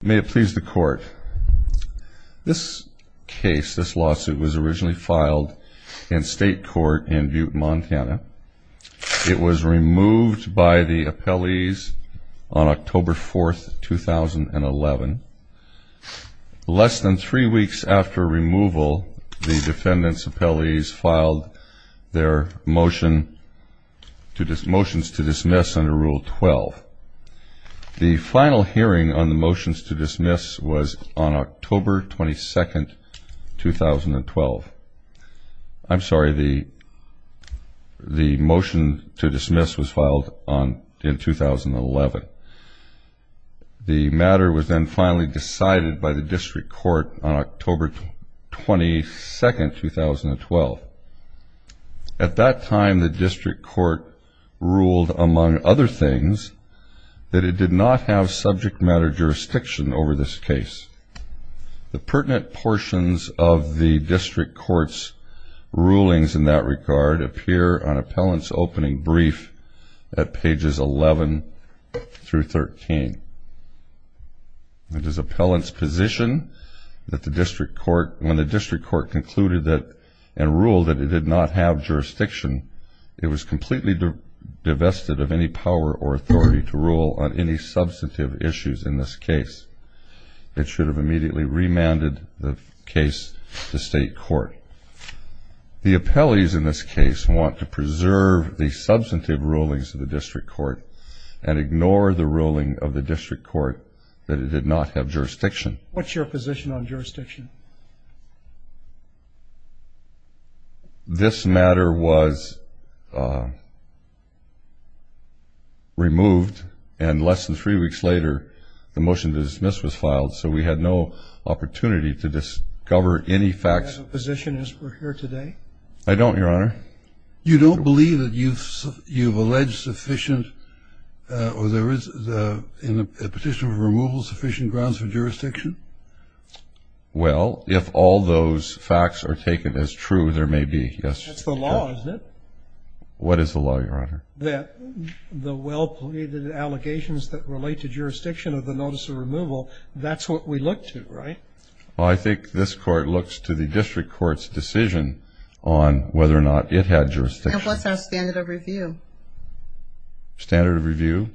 May it please the Court. This case, this lawsuit, was originally filed in state court in Butte, Montana. It was removed by the appellees on October 4, 2011. Less than three weeks after removal, the defendants' appellees filed their motions to dismiss under Rule 12. The final hearing on the motions to dismiss was on October 22, 2012. I'm sorry, the motion to dismiss was filed in 2011. The matter was then finally decided by the district court on October 22, 2012. At that time, the district court ruled, among other things, that it did not have subject matter jurisdiction over this case. The pertinent portions of the district court's rulings in that regard appear on appellant's opening brief at pages 11 through 13. It is appellant's position that when the district court concluded and ruled that it did not have jurisdiction, it was completely divested of any power or authority to rule on any substantive issues in this case. It should have immediately remanded the case to state court. The appellees in this case want to preserve the substantive rulings of the district court and ignore the ruling of the district court that it did not have jurisdiction. What's your position on jurisdiction? This matter was removed, and less than three weeks later, the motion to dismiss was filed, so we had no opportunity to discover any facts. Do you have a position as we're here today? I don't, Your Honor. You don't believe that you've alleged sufficient or there is in the petition for removal sufficient grounds for jurisdiction? Well, if all those facts are taken as true, there may be, yes. That's the law, isn't it? What is the law, Your Honor? That the well-pleaded allegations that relate to jurisdiction of the notice of removal, that's what we look to, right? Well, I think this court looks to the district court's decision on whether or not it had jurisdiction. And what's our standard of review? Standard of review?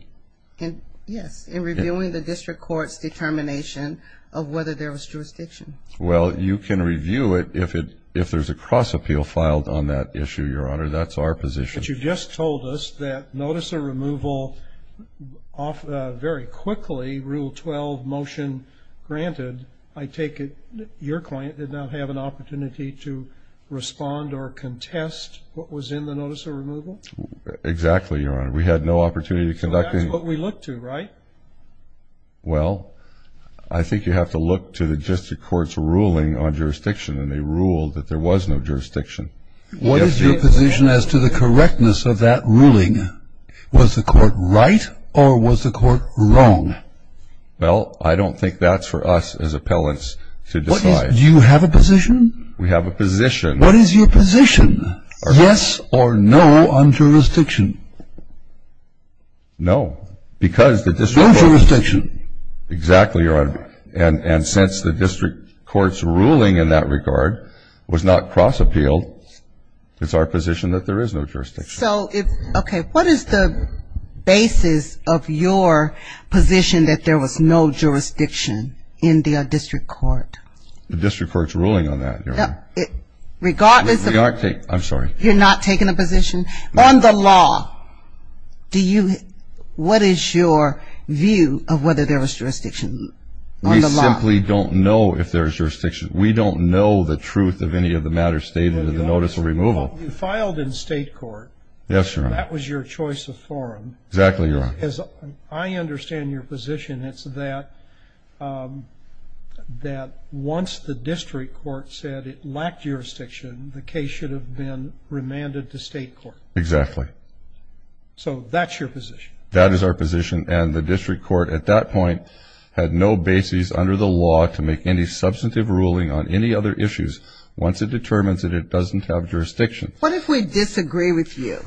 Yes, in reviewing the district court's determination of whether there was jurisdiction. Well, you can review it if there's a cross-appeal filed on that issue, Your Honor. That's our position. But you just told us that notice of removal very quickly, Rule 12, motion granted. I take it your client did not have an opportunity to respond or contest what was in the notice of removal? Exactly, Your Honor. We had no opportunity to conduct any of that. So that's what we look to, right? Well, I think you have to look to the district court's ruling on jurisdiction, and they ruled that there was no jurisdiction. What is your position as to the correctness of that ruling? Was the court right or was the court wrong? Well, I don't think that's for us as appellants to decide. Do you have a position? We have a position. What is your position, yes or no on jurisdiction? No, because the district court — No jurisdiction. It's our position that there is no jurisdiction. Okay. What is the basis of your position that there was no jurisdiction in the district court? The district court's ruling on that, Your Honor. Regardless of — I'm sorry. You're not taking a position? On the law, what is your view of whether there was jurisdiction on the law? We simply don't know if there's jurisdiction. We don't know the truth of any of the matters stated in the notice of removal. You filed in state court. Yes, Your Honor. That was your choice of forum. Exactly, Your Honor. As I understand your position, it's that once the district court said it lacked jurisdiction, the case should have been remanded to state court. Exactly. So that's your position? That is our position, and the district court at that point had no basis under the law to make any substantive ruling on any other issues once it determines that it doesn't have jurisdiction. What if we disagree with you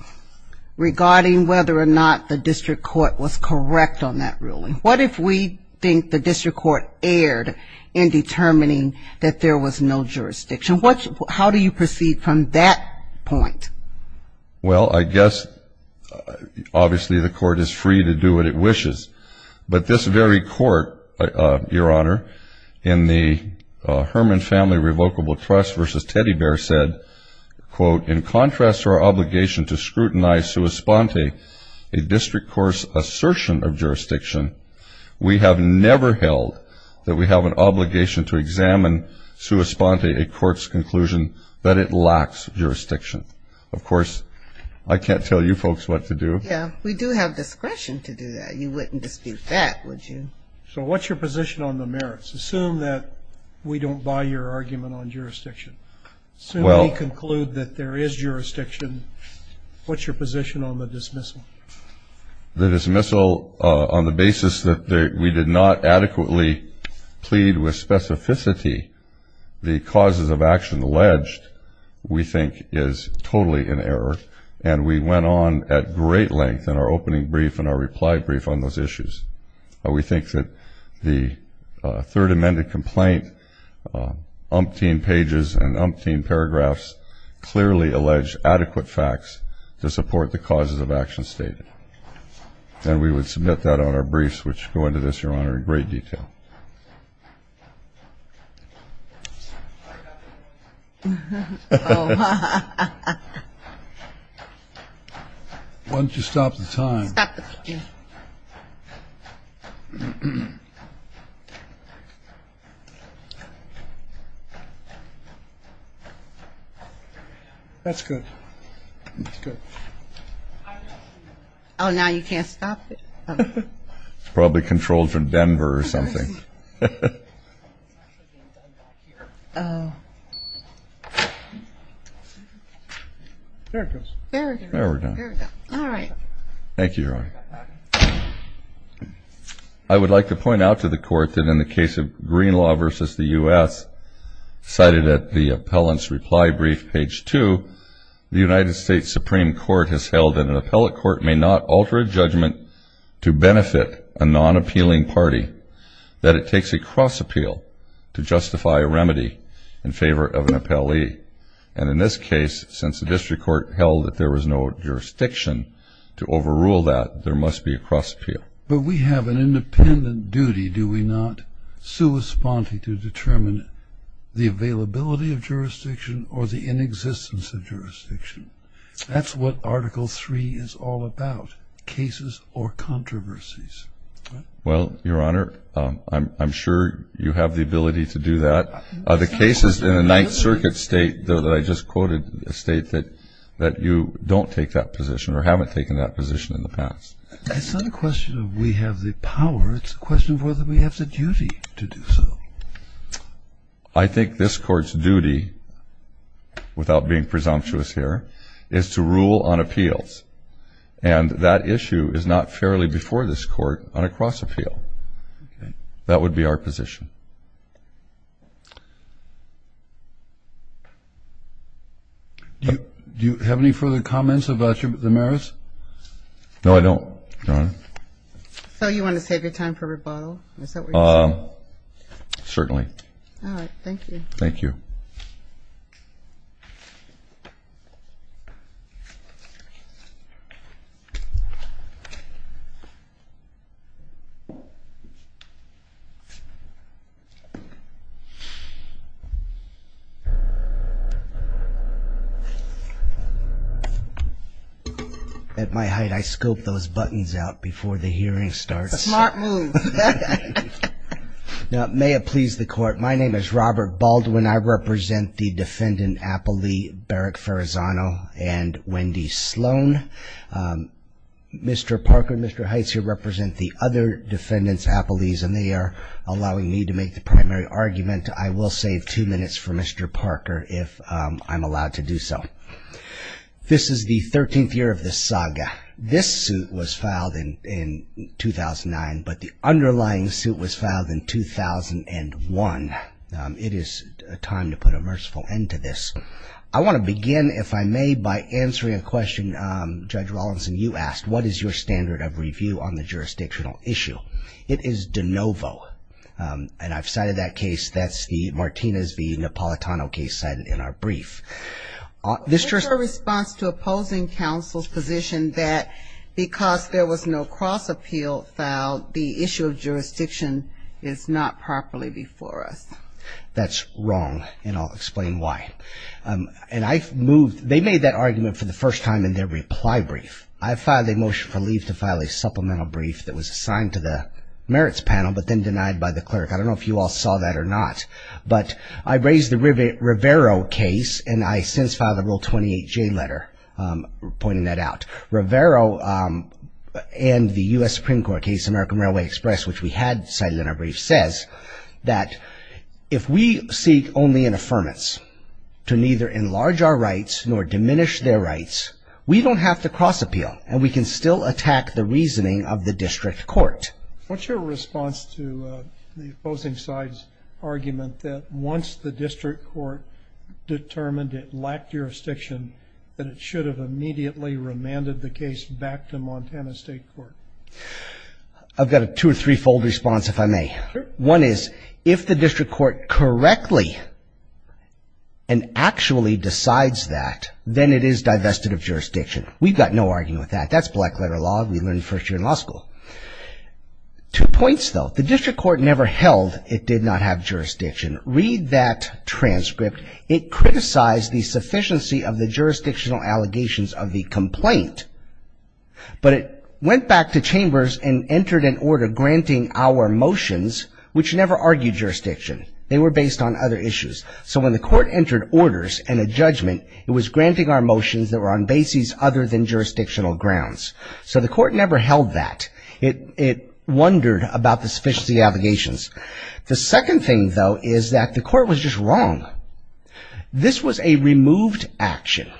regarding whether or not the district court was correct on that ruling? What if we think the district court erred in determining that there was no jurisdiction? How do you proceed from that point? Well, I guess obviously the court is free to do what it wishes, but this very court, Your Honor, in the Herman Family Revocable Trust v. Teddy Bear said, quote, In contrast to our obligation to scrutinize sua sponte, a district court's assertion of jurisdiction, we have never held that we have an obligation to examine sua sponte, a court's conclusion, that it lacks jurisdiction. Of course, I can't tell you folks what to do. Yeah, we do have discretion to do that. You wouldn't dispute that, would you? So what's your position on the merits? Assume that we don't buy your argument on jurisdiction. Assume we conclude that there is jurisdiction. What's your position on the dismissal? The dismissal, on the basis that we did not adequately plead with specificity the causes of action alleged, we think is totally in error, and we went on at great length in our opening brief and our reply brief on those issues. We think that the third amended complaint, umpteen pages and umpteen paragraphs, clearly alleged adequate facts to support the causes of action stated. And we would submit that on our briefs, which go into this, Your Honor, in great detail. Why don't you stop the time? Stop the time. That's good. That's good. Oh, now you can't stop it? It's probably controlled from Denver or something. There it goes. There we go. All right. Thank you, Your Honor. I would like to point out to the Court that in the case of Greenlaw v. the U.S., cited at the appellant's reply brief, page 2, the United States Supreme Court has held that an appellate court may not alter a judgment to benefit a non-appealing party, that it takes a cross appeal to justify a remedy in favor of an appellee. And in this case, since the district court held that there was no jurisdiction to overrule that, there must be a cross appeal. But we have an independent duty, do we not, to determine the availability of jurisdiction or the inexistence of jurisdiction? That's what Article III is all about, cases or controversies. Well, Your Honor, I'm sure you have the ability to do that. The cases in the Ninth Circuit state, though, that I just quoted, state that you don't take that position or haven't taken that position in the past. It's not a question of we have the power. It's a question of whether we have the duty to do so. I think this Court's duty, without being presumptuous here, is to rule on appeals. And that issue is not fairly before this Court on a cross appeal. That would be our position. Do you have any further comments about your merits? No, I don't, Your Honor. So you want to save your time for rebuttal? Is that what you're saying? Certainly. All right, thank you. Thank you. Thank you. At my height, I scope those buttons out before the hearing starts. Smart move. Now, may it please the Court, my name is Robert Baldwin. I represent the defendant appellee, Beric Ferrazano and Wendy Sloan. Mr. Parker and Mr. Heitzer represent the other defendants appellees, and they are allowing me to make the primary argument. I will save two minutes for Mr. Parker if I'm allowed to do so. This is the 13th year of the saga. This suit was filed in 2009, but the underlying suit was filed in 2001. It is time to put a merciful end to this. I want to begin, if I may, by answering a question Judge Rawlinson, you asked, what is your standard of review on the jurisdictional issue? It is de novo, and I've cited that case. That's the Martinez v. Napolitano case cited in our brief. In response to opposing counsel's position that because there was no cross appeal filed, the issue of jurisdiction is not properly before us. That's wrong, and I'll explain why. And I've moved they made that argument for the first time in their reply brief. I filed a motion for leave to file a supplemental brief that was assigned to the merits panel, but then denied by the clerk. I don't know if you all saw that or not, but I raised the Rivero case, and I since filed a Rule 28J letter pointing that out. Rivero and the U.S. Supreme Court case, American Railway Express, which we had cited in our brief, says that if we seek only an affirmance to neither enlarge our rights nor diminish their rights, we don't have to cross appeal, and we can still attack the reasoning of the district court. What's your response to the opposing side's argument that once the district court determined it lacked jurisdiction, that it should have immediately remanded the case back to Montana State Court? I've got a two- or three-fold response, if I may. One is if the district court correctly and actually decides that, then it is divested of jurisdiction. We've got no arguing with that. That's black-letter law. We learned first year in law school. Two points, though. The district court never held it did not have jurisdiction. Read that transcript. It criticized the sufficiency of the jurisdictional allegations of the complaint, but it went back to chambers and entered an order granting our motions, which never argued jurisdiction. They were based on other issues. So when the court entered orders and a judgment, it was granting our motions that were on bases other than jurisdictional grounds. So the court never held that. It wondered about the sufficiency of the allegations. The second thing, though, is that the court was just wrong. This was a removed action.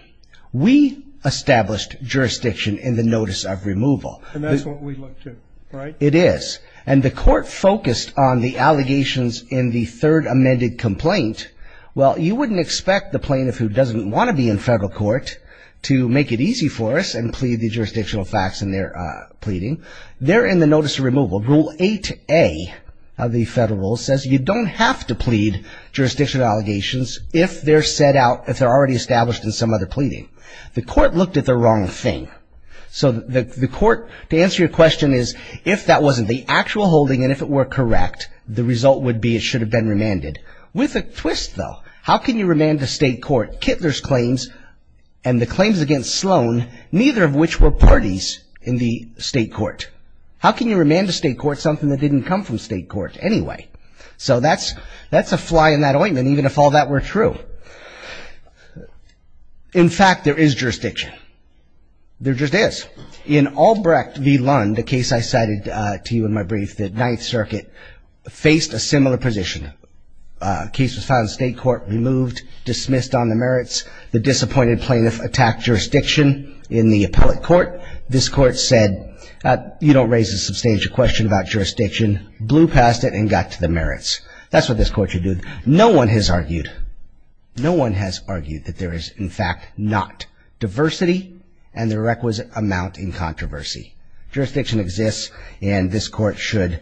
We established jurisdiction in the notice of removal. And that's what we look to, right? It is. And the court focused on the allegations in the third amended complaint. Well, you wouldn't expect the plaintiff who doesn't want to be in federal court to make it easy for us and plead the jurisdictional facts in their pleading. They're in the notice of removal. Rule 8A of the federal rule says you don't have to plead jurisdictional allegations if they're set out, if they're already established in some other pleading. The court looked at the wrong thing. So the court, to answer your question, is if that wasn't the actual holding and if it were correct, the result would be it should have been remanded. With a twist, though. How can you remand a state court? So that's a fly in that ointment, even if all that were true. In fact, there is jurisdiction. There just is. In Albrecht v. Lund, the case I cited to you in my brief, the Ninth Circuit, faced a similar position. The case was filed in state court, removed, dismissed on the merits, and the state court was dismissed on the merits. The disappointed plaintiff attacked jurisdiction in the appellate court. This court said, you don't raise a substantial question about jurisdiction, blew past it, and got to the merits. That's what this court should do. No one has argued. No one has argued that there is, in fact, not diversity and the requisite amount in controversy. Jurisdiction exists, and this court should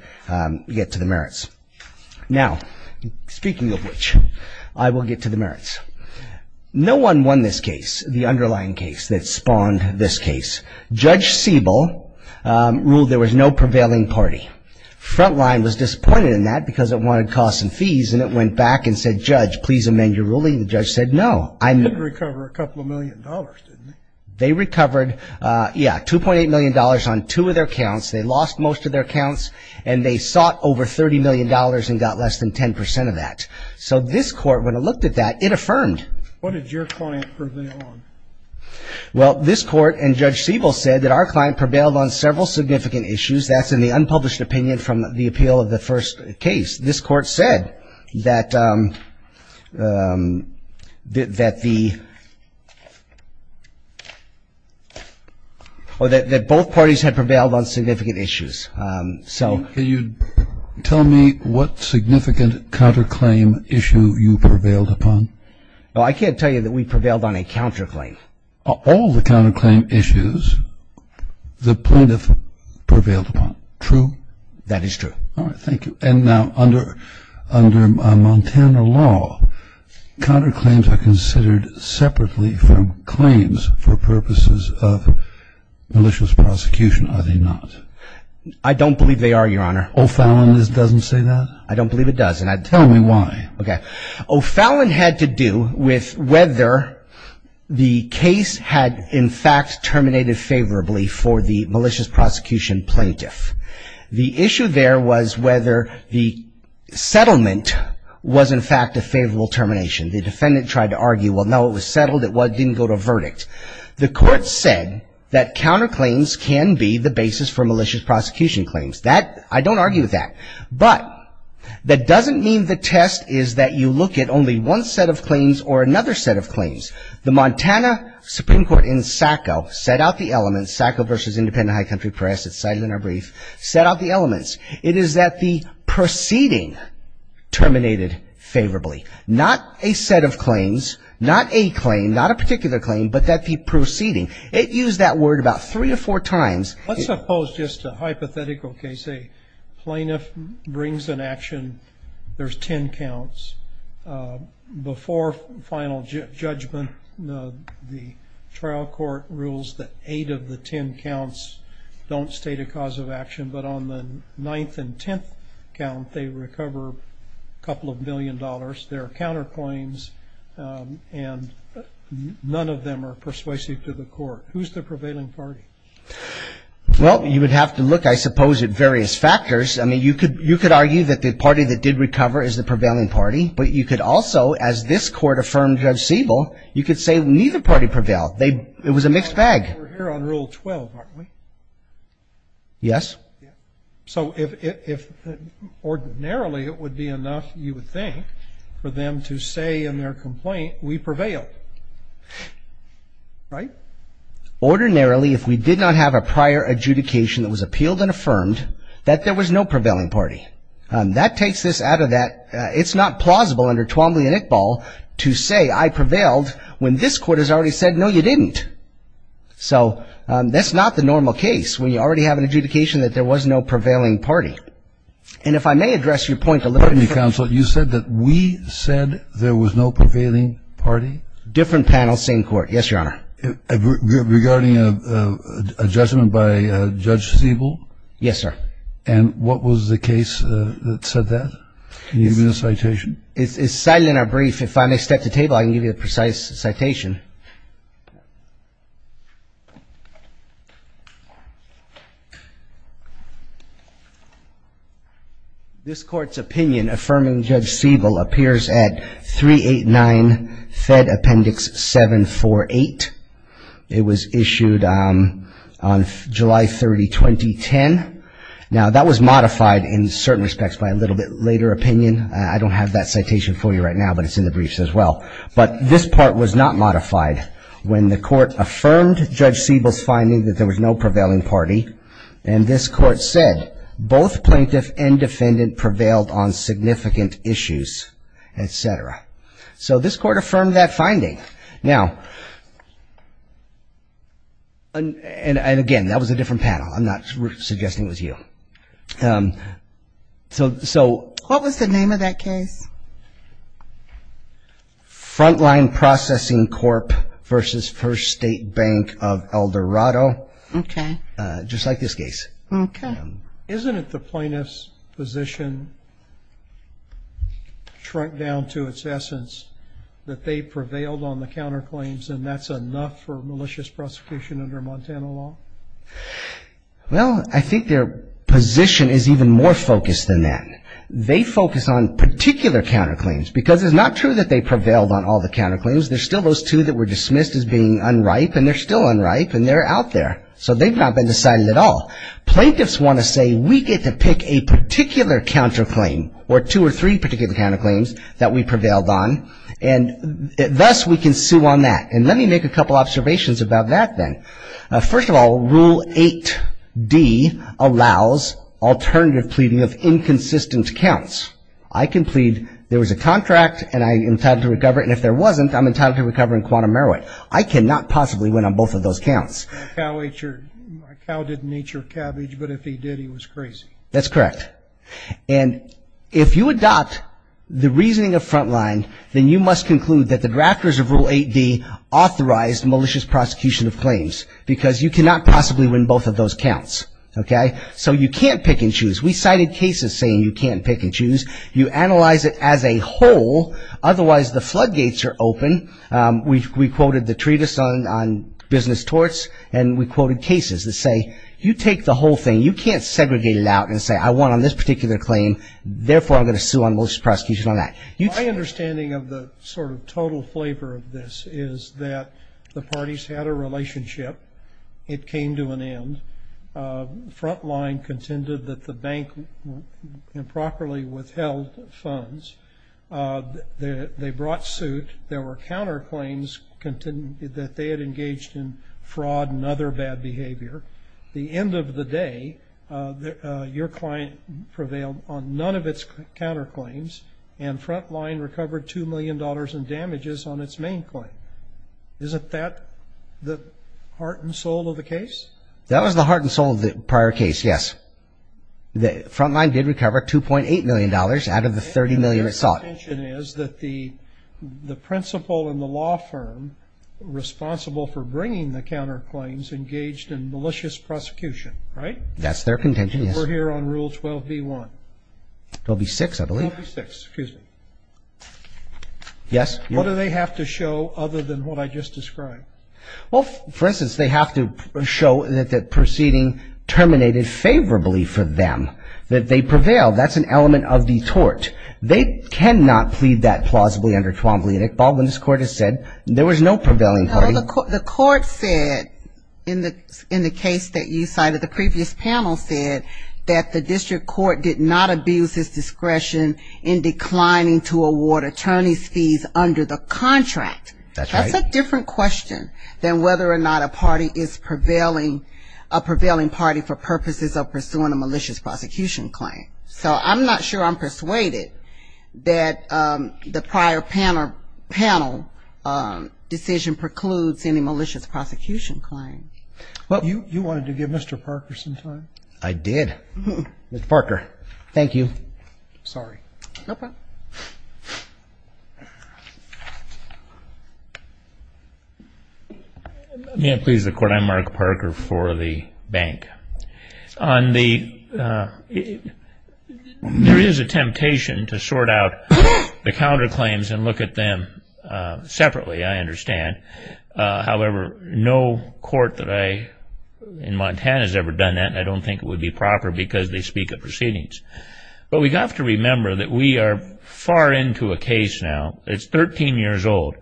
get to the merits. Now, speaking of which, I will get to the merits. No one won this case, the underlying case that spawned this case. Judge Siebel ruled there was no prevailing party. Frontline was disappointed in that because it wanted costs and fees, and it went back and said, Judge, please amend your ruling. The judge said no. They did recover a couple of million dollars, didn't they? They recovered, yeah, $2.8 million on two of their counts. They lost most of their counts, and they sought over $30 million and got less than 10% of that. So this court, when it looked at that, it affirmed. What did your client prevail on? Well, this court and Judge Siebel said that our client prevailed on several significant issues. That's in the unpublished opinion from the appeal of the first case. This court said that the or that both parties had prevailed on significant issues, so. Can you tell me what significant counterclaim issue you prevailed upon? Well, I can't tell you that we prevailed on a counterclaim. All the counterclaim issues the plaintiff prevailed upon. True? That is true. All right, thank you. And now under Montana law, counterclaims are considered separately from claims for purposes of malicious prosecution, are they not? I don't believe they are, Your Honor. O'Fallon doesn't say that? I don't believe it does. Tell me why. Okay. O'Fallon had to do with whether the case had in fact terminated favorably for the malicious prosecution plaintiff. The issue there was whether the settlement was in fact a favorable termination. The defendant tried to argue, well, no, it was settled, it didn't go to verdict. The court said that counterclaims can be the basis for malicious prosecution claims. That, I don't argue with that. But that doesn't mean the test is that you look at only one set of claims or another set of claims. The Montana Supreme Court in SACO set out the elements, SACO versus Independent High Country Press, it's cited in our brief, set out the elements. It is that the proceeding terminated favorably. Not a set of claims, not a claim, not a particular claim, but that the proceeding. It used that word about three or four times. Let's suppose just a hypothetical case, a plaintiff brings an action, there's ten counts. Before final judgment, the trial court rules that eight of the ten counts don't state a cause of action. But on the ninth and tenth count, they recover a couple of million dollars. There are counterclaims and none of them are persuasive to the court. Who's the prevailing party? Well, you would have to look, I suppose, at various factors. I mean, you could argue that the party that did recover is the prevailing party. But you could also, as this Court affirmed Judge Siebel, you could say neither party prevailed. It was a mixed bag. We're here on Rule 12, aren't we? Yes. So if ordinarily it would be enough, you would think, for them to say in their complaint, we prevail. Right? Ordinarily, if we did not have a prior adjudication that was appealed and affirmed, that there was no prevailing party. That takes this out of that. It's not plausible under Twombly and Iqbal to say I prevailed when this Court has already said, no, you didn't. So that's not the normal case when you already have an adjudication that there was no prevailing party. And if I may address your point a little bit. Pardon me, Counsel. You said that we said there was no prevailing party? Different panel, same Court. Yes, Your Honor. Regarding a judgment by Judge Siebel? Yes, sir. And what was the case that said that? Can you give me the citation? It's cited in our brief. If I may step to the table, I can give you the precise citation. This Court's opinion affirming Judge Siebel appears at 389 Fed Appendix 748. It was issued on July 30, 2010. Now, that was modified in certain respects by a little bit later opinion. I don't have that citation for you right now, but it's in the briefs as well. But this part was not modified when the Court affirmed Judge Siebel's finding that there was no prevailing party. And this Court said both plaintiff and defendant prevailed on significant issues, etc. So this Court affirmed that finding. Now, and again, that was a different panel. I'm not suggesting it was you. What was the name of that case? Frontline Processing Corp. v. First State Bank of Eldorado. Okay. Just like this case. Okay. Isn't it the plaintiff's position, shrunk down to its essence, that they prevailed on the counterclaims and that's enough for malicious prosecution under Montana law? Well, I think their position is even more focused than that. They focus on particular counterclaims because it's not true that they prevailed on all the counterclaims. There's still those two that were dismissed as being unripe and they're still unripe and they're out there. So they've not been decided at all. Plaintiffs want to say we get to pick a particular counterclaim or two or three particular counterclaims that we prevailed on and thus we can sue on that. And let me make a couple observations about that then. First of all, Rule 8D allows alternative pleading of inconsistent counts. I can plead there was a contract and I'm entitled to recover it and if there wasn't, I'm entitled to recover in quantum merit. I cannot possibly win on both of those counts. My cow didn't eat your cabbage, but if he did, he was crazy. That's correct. And if you adopt the reasoning of Frontline, then you must conclude that the drafters of Rule 8D authorized malicious prosecution of claims because you cannot possibly win both of those counts. Okay? So you can't pick and choose. We cited cases saying you can't pick and choose. You analyze it as a whole. Otherwise, the floodgates are open. We quoted the treatise on business torts and we quoted cases that say you take the whole thing. You can't segregate it out and say I won on this particular claim. Therefore, I'm going to sue on most prosecutions on that. My understanding of the sort of total flavor of this is that the parties had a relationship. It came to an end. Frontline contended that the bank improperly withheld funds. They brought suit. There were counterclaims that they had engaged in fraud and other bad behavior. The end of the day, your client prevailed on none of its counterclaims and Frontline recovered $2 million in damages on its main claim. Isn't that the heart and soul of the case? That was the heart and soul of the prior case, yes. Frontline did recover $2.8 million out of the $30 million it sought. My contention is that the principal and the law firm responsible for bringing the counterclaims engaged in malicious prosecution, right? That's their contention, yes. We're here on Rule 12b-1. It'll be 6, I believe. It'll be 6, excuse me. Yes? What do they have to show other than what I just described? Well, for instance, they have to show that the proceeding terminated favorably for them, that they prevailed. That's an element of the tort. They cannot plead that plausibly under 12b. And if Baldwin's court has said there was no prevailing party. The court said in the case that you cited, the previous panel said that the district court did not abuse its discretion in declining to award attorney's fees under the contract. That's right. That's a different question than whether or not a party is prevailing, a prevailing party for purposes of pursuing a malicious prosecution claim. So I'm not sure I'm persuaded that the prior panel decision precludes any malicious prosecution claim. Well, you wanted to give Mr. Parker some time. I did. Mr. Parker, thank you. Sorry. No problem. May I please the court? I'm Mark Parker for the bank. There is a temptation to sort out the counterclaims and look at them separately, I understand. However, no court in Montana has ever done that, and I don't think it would be proper because they speak of proceedings. But we have to remember that we are far into a case now. It's 13 years old.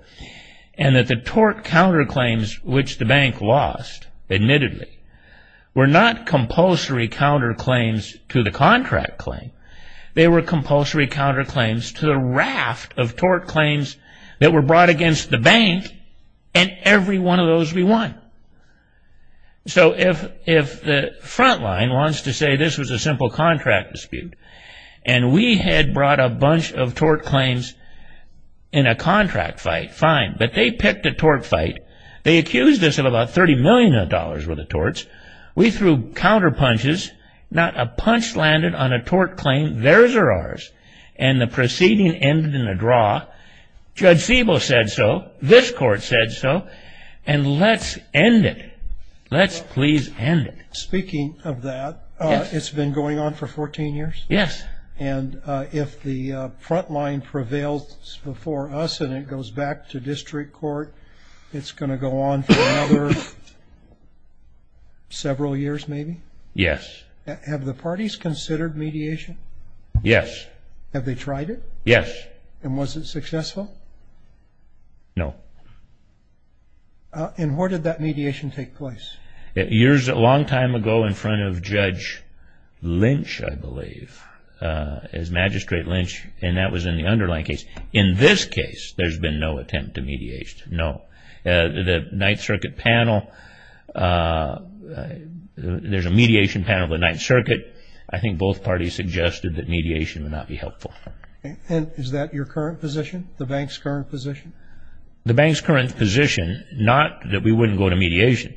And that the tort counterclaims, which the bank lost, admittedly, were not compulsory counterclaims to the contract claim. They were compulsory counterclaims to the raft of tort claims that were brought against the bank, and every one of those we won. So if the front line wants to say this was a simple contract dispute and we had brought a bunch of tort claims in a contract fight, fine. But they picked a tort fight. They accused us of about $30 million worth of torts. We threw counterpunches. Not a punch landed on a tort claim, theirs or ours. And the proceeding ended in a draw. Judge Sebo said so. This court said so. And let's end it. Let's please end it. Speaking of that, it's been going on for 14 years? Yes. And if the front line prevails before us and it goes back to district court, it's going to go on for another several years maybe? Yes. Have the parties considered mediation? Yes. Have they tried it? Yes. And was it successful? No. And where did that mediation take place? Years, a long time ago in front of Judge Lynch, I believe, as Magistrate Lynch, and that was in the underlying case. In this case, there's been no attempt to mediate. No. The Ninth Circuit panel, there's a mediation panel of the Ninth Circuit. I think both parties suggested that mediation would not be helpful. And is that your current position, the bank's current position? The bank's current position, not that we wouldn't go to mediation,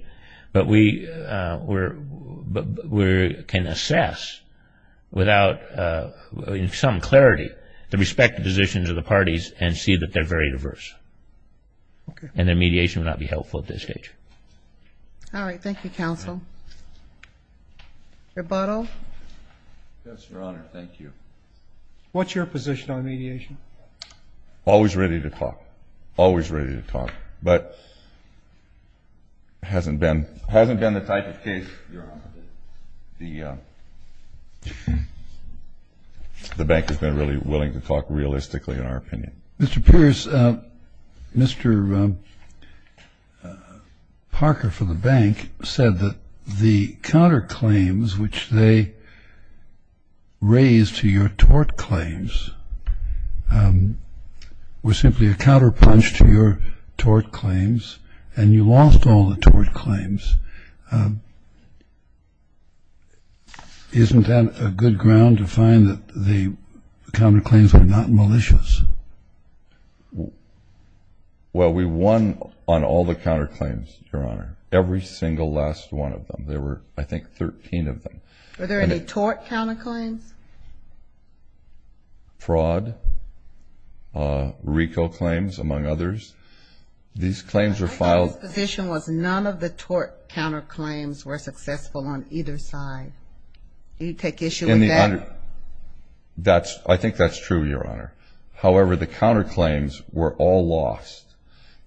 but we can assess without some clarity the respective positions of the parties and see that they're very diverse. And then mediation would not be helpful at this stage. All right. Thank you, counsel. Rebuttal? Yes, Your Honor. Thank you. What's your position on mediation? Always ready to talk. Always ready to talk. But it hasn't been the type of case, Your Honor, that the bank has been really willing to talk realistically in our opinion. Mr. Pierce, Mr. Parker for the bank said that the counterclaims which they raised to your tort claims were simply a counterpunch to your tort claims and you lost all the tort claims. Isn't that a good ground to find that the counterclaims were not malicious? Well, we won on all the counterclaims, Your Honor, every single last one of them. There were, I think, 13 of them. Were there any tort counterclaims? Fraud, RICO claims, among others. These claims were filed. My position was none of the tort counterclaims were successful on either side. You take issue with that? I think that's true, Your Honor. However, the counterclaims were all lost.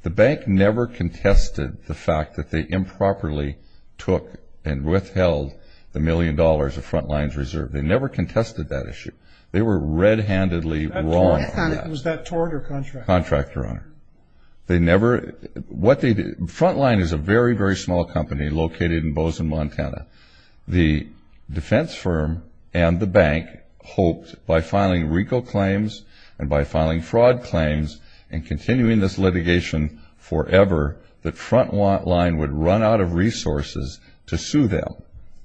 The bank never contested the fact that they improperly took and withheld the million dollars of Frontline's reserve. They never contested that issue. They were red-handedly wrong on that. Was that tort or contract? Contract, Your Honor. Frontline is a very, very small company located in Bozeman, Montana. The defense firm and the bank hoped by filing RICO claims and by filing fraud claims and continuing this litigation forever that Frontline would run out of resources to sue them,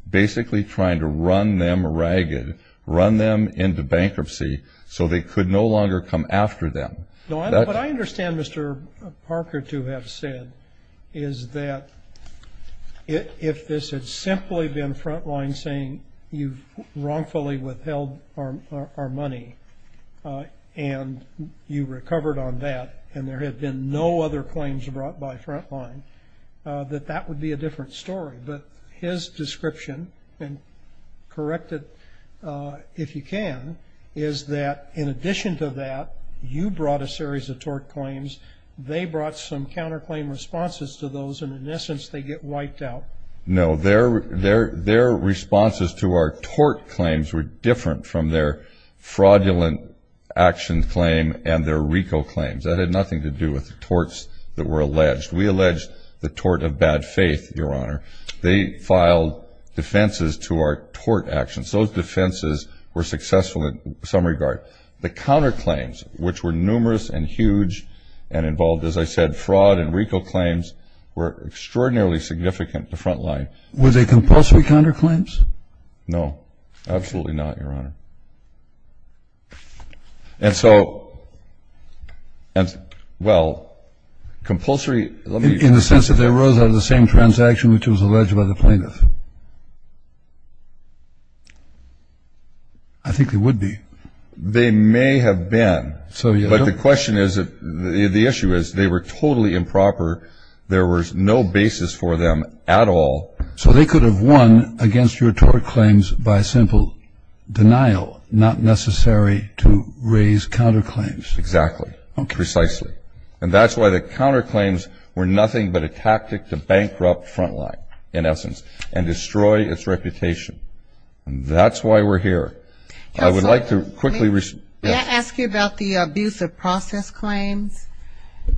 basically trying to run them ragged, run them into bankruptcy so they could no longer come after them. What I understand Mr. Parker to have said is that if this had simply been Frontline saying, you've wrongfully withheld our money and you recovered on that and there had been no other claims brought by Frontline, that that would be a different story. But his description, and correct it if you can, is that in addition to that, you brought a series of tort claims, they brought some counterclaim responses to those, and in essence they get wiped out. No, their responses to our tort claims were different from their fraudulent action claim and their RICO claims. That had nothing to do with the torts that were alleged. We alleged the tort of bad faith, Your Honor. They filed defenses to our tort actions. Those defenses were successful in some regard. The counterclaims, which were numerous and huge and involved, as I said, fraud and RICO claims were extraordinarily significant to Frontline. Were they compulsory counterclaims? No, absolutely not, Your Honor. And so, well, compulsory. In the sense that they arose out of the same transaction which was alleged by the plaintiff. I think they would be. They may have been. But the question is, the issue is, they were totally improper. There was no basis for them at all. So they could have won against your tort claims by simple denial, not necessary to raise counterclaims. Exactly. Precisely. And that's why the counterclaims were nothing but a tactic to bankrupt Frontline, in essence, and destroy its reputation. And that's why we're here. I would like to quickly respond. May I ask you about the abuse of process claims?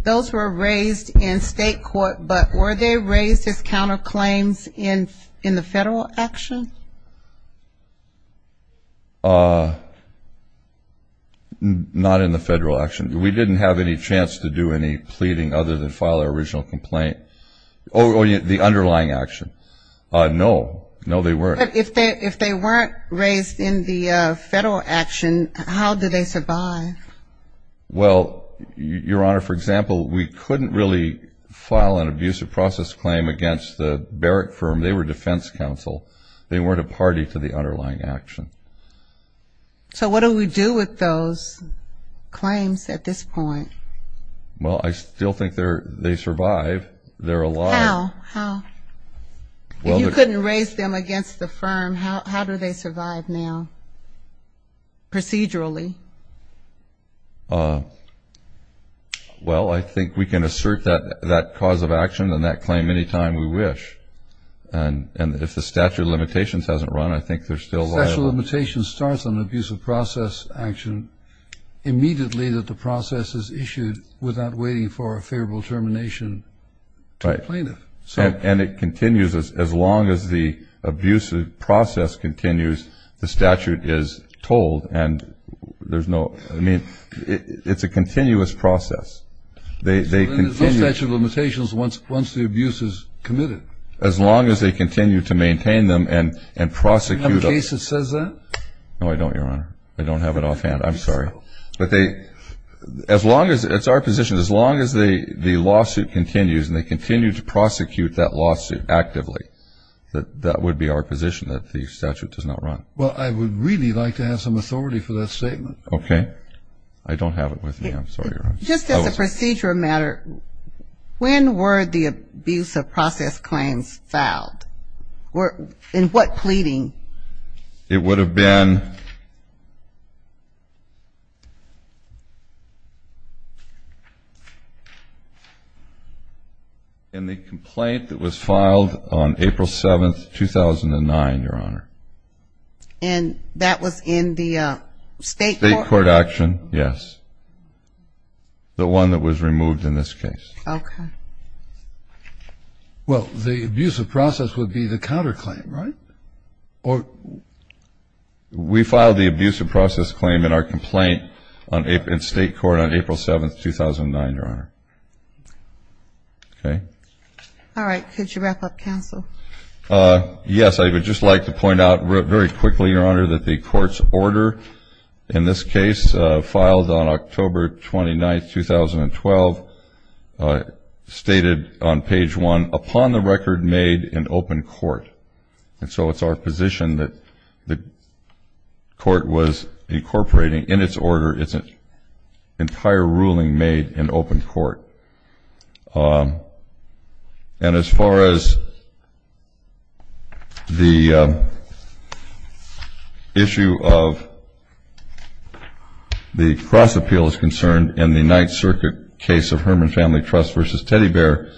Those were raised in state court, but were they raised as counterclaims in the federal action? Not in the federal action. We didn't have any chance to do any pleading other than file our original complaint. Or the underlying action. No. No, they weren't. But if they weren't raised in the federal action, how did they survive? Well, Your Honor, for example, we couldn't really file an abuse of process claim against the Barrick firm. They were defense counsel. They weren't a party to the underlying action. So what do we do with those claims at this point? Well, I still think they survive. They're alive. How? If you couldn't raise them against the firm, how do they survive now procedurally? Well, I think we can assert that cause of action and that claim any time we wish. And if the statute of limitations hasn't run, I think they're still liable. The statute of limitations starts on abuse of process action immediately that the process is issued without waiting for a favorable termination to the plaintiff. And it continues as long as the abuse of process continues, the statute is told. I mean, it's a continuous process. There's no statute of limitations once the abuse is committed. As long as they continue to maintain them and prosecute them. Do you have a case that says that? No, I don't, Your Honor. I don't have it offhand. I'm sorry. But they, as long as, it's our position, as long as the lawsuit continues and they continue to prosecute that lawsuit actively, that would be our position that the statute does not run. Well, I would really like to have some authority for that statement. Okay. I don't have it with me. I'm sorry, Your Honor. Just as a procedural matter, when were the abuse of process claims filed? In what pleading? It would have been in the complaint that was filed on April 7th, 2009, Your Honor. And that was in the state court? State court action, yes. The one that was removed in this case. Okay. Well, the abuse of process would be the counterclaim, right? We filed the abuse of process claim in our complaint in state court on April 7th, 2009, Your Honor. Okay. All right. Could you wrap up, counsel? Yes. I would just like to point out very quickly, Your Honor, that the court's order in this case, filed on October 29th, 2012, stated on page one, upon the record made in open court. And so it's our position that the court was incorporating in its order its entire ruling made in open court. And as far as the issue of the cross appeal is concerned, in the Ninth Circuit case of Herman Family Trust versus Teddy Bear,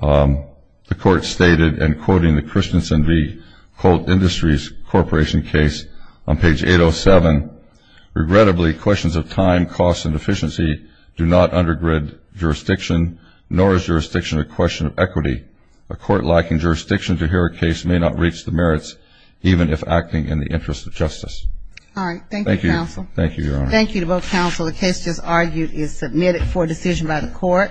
the court stated, and quoting the Christensen v. Colt Industries Corporation case on page 807, Regrettably, questions of time, cost, and efficiency do not undergird jurisdiction, nor is jurisdiction a question of equity. A court lacking jurisdiction to hear a case may not reach the merits, even if acting in the interest of justice. All right. Thank you, counsel. Thank you, Your Honor. Thank you to both counsel. The case just argued is submitted for decision by the court.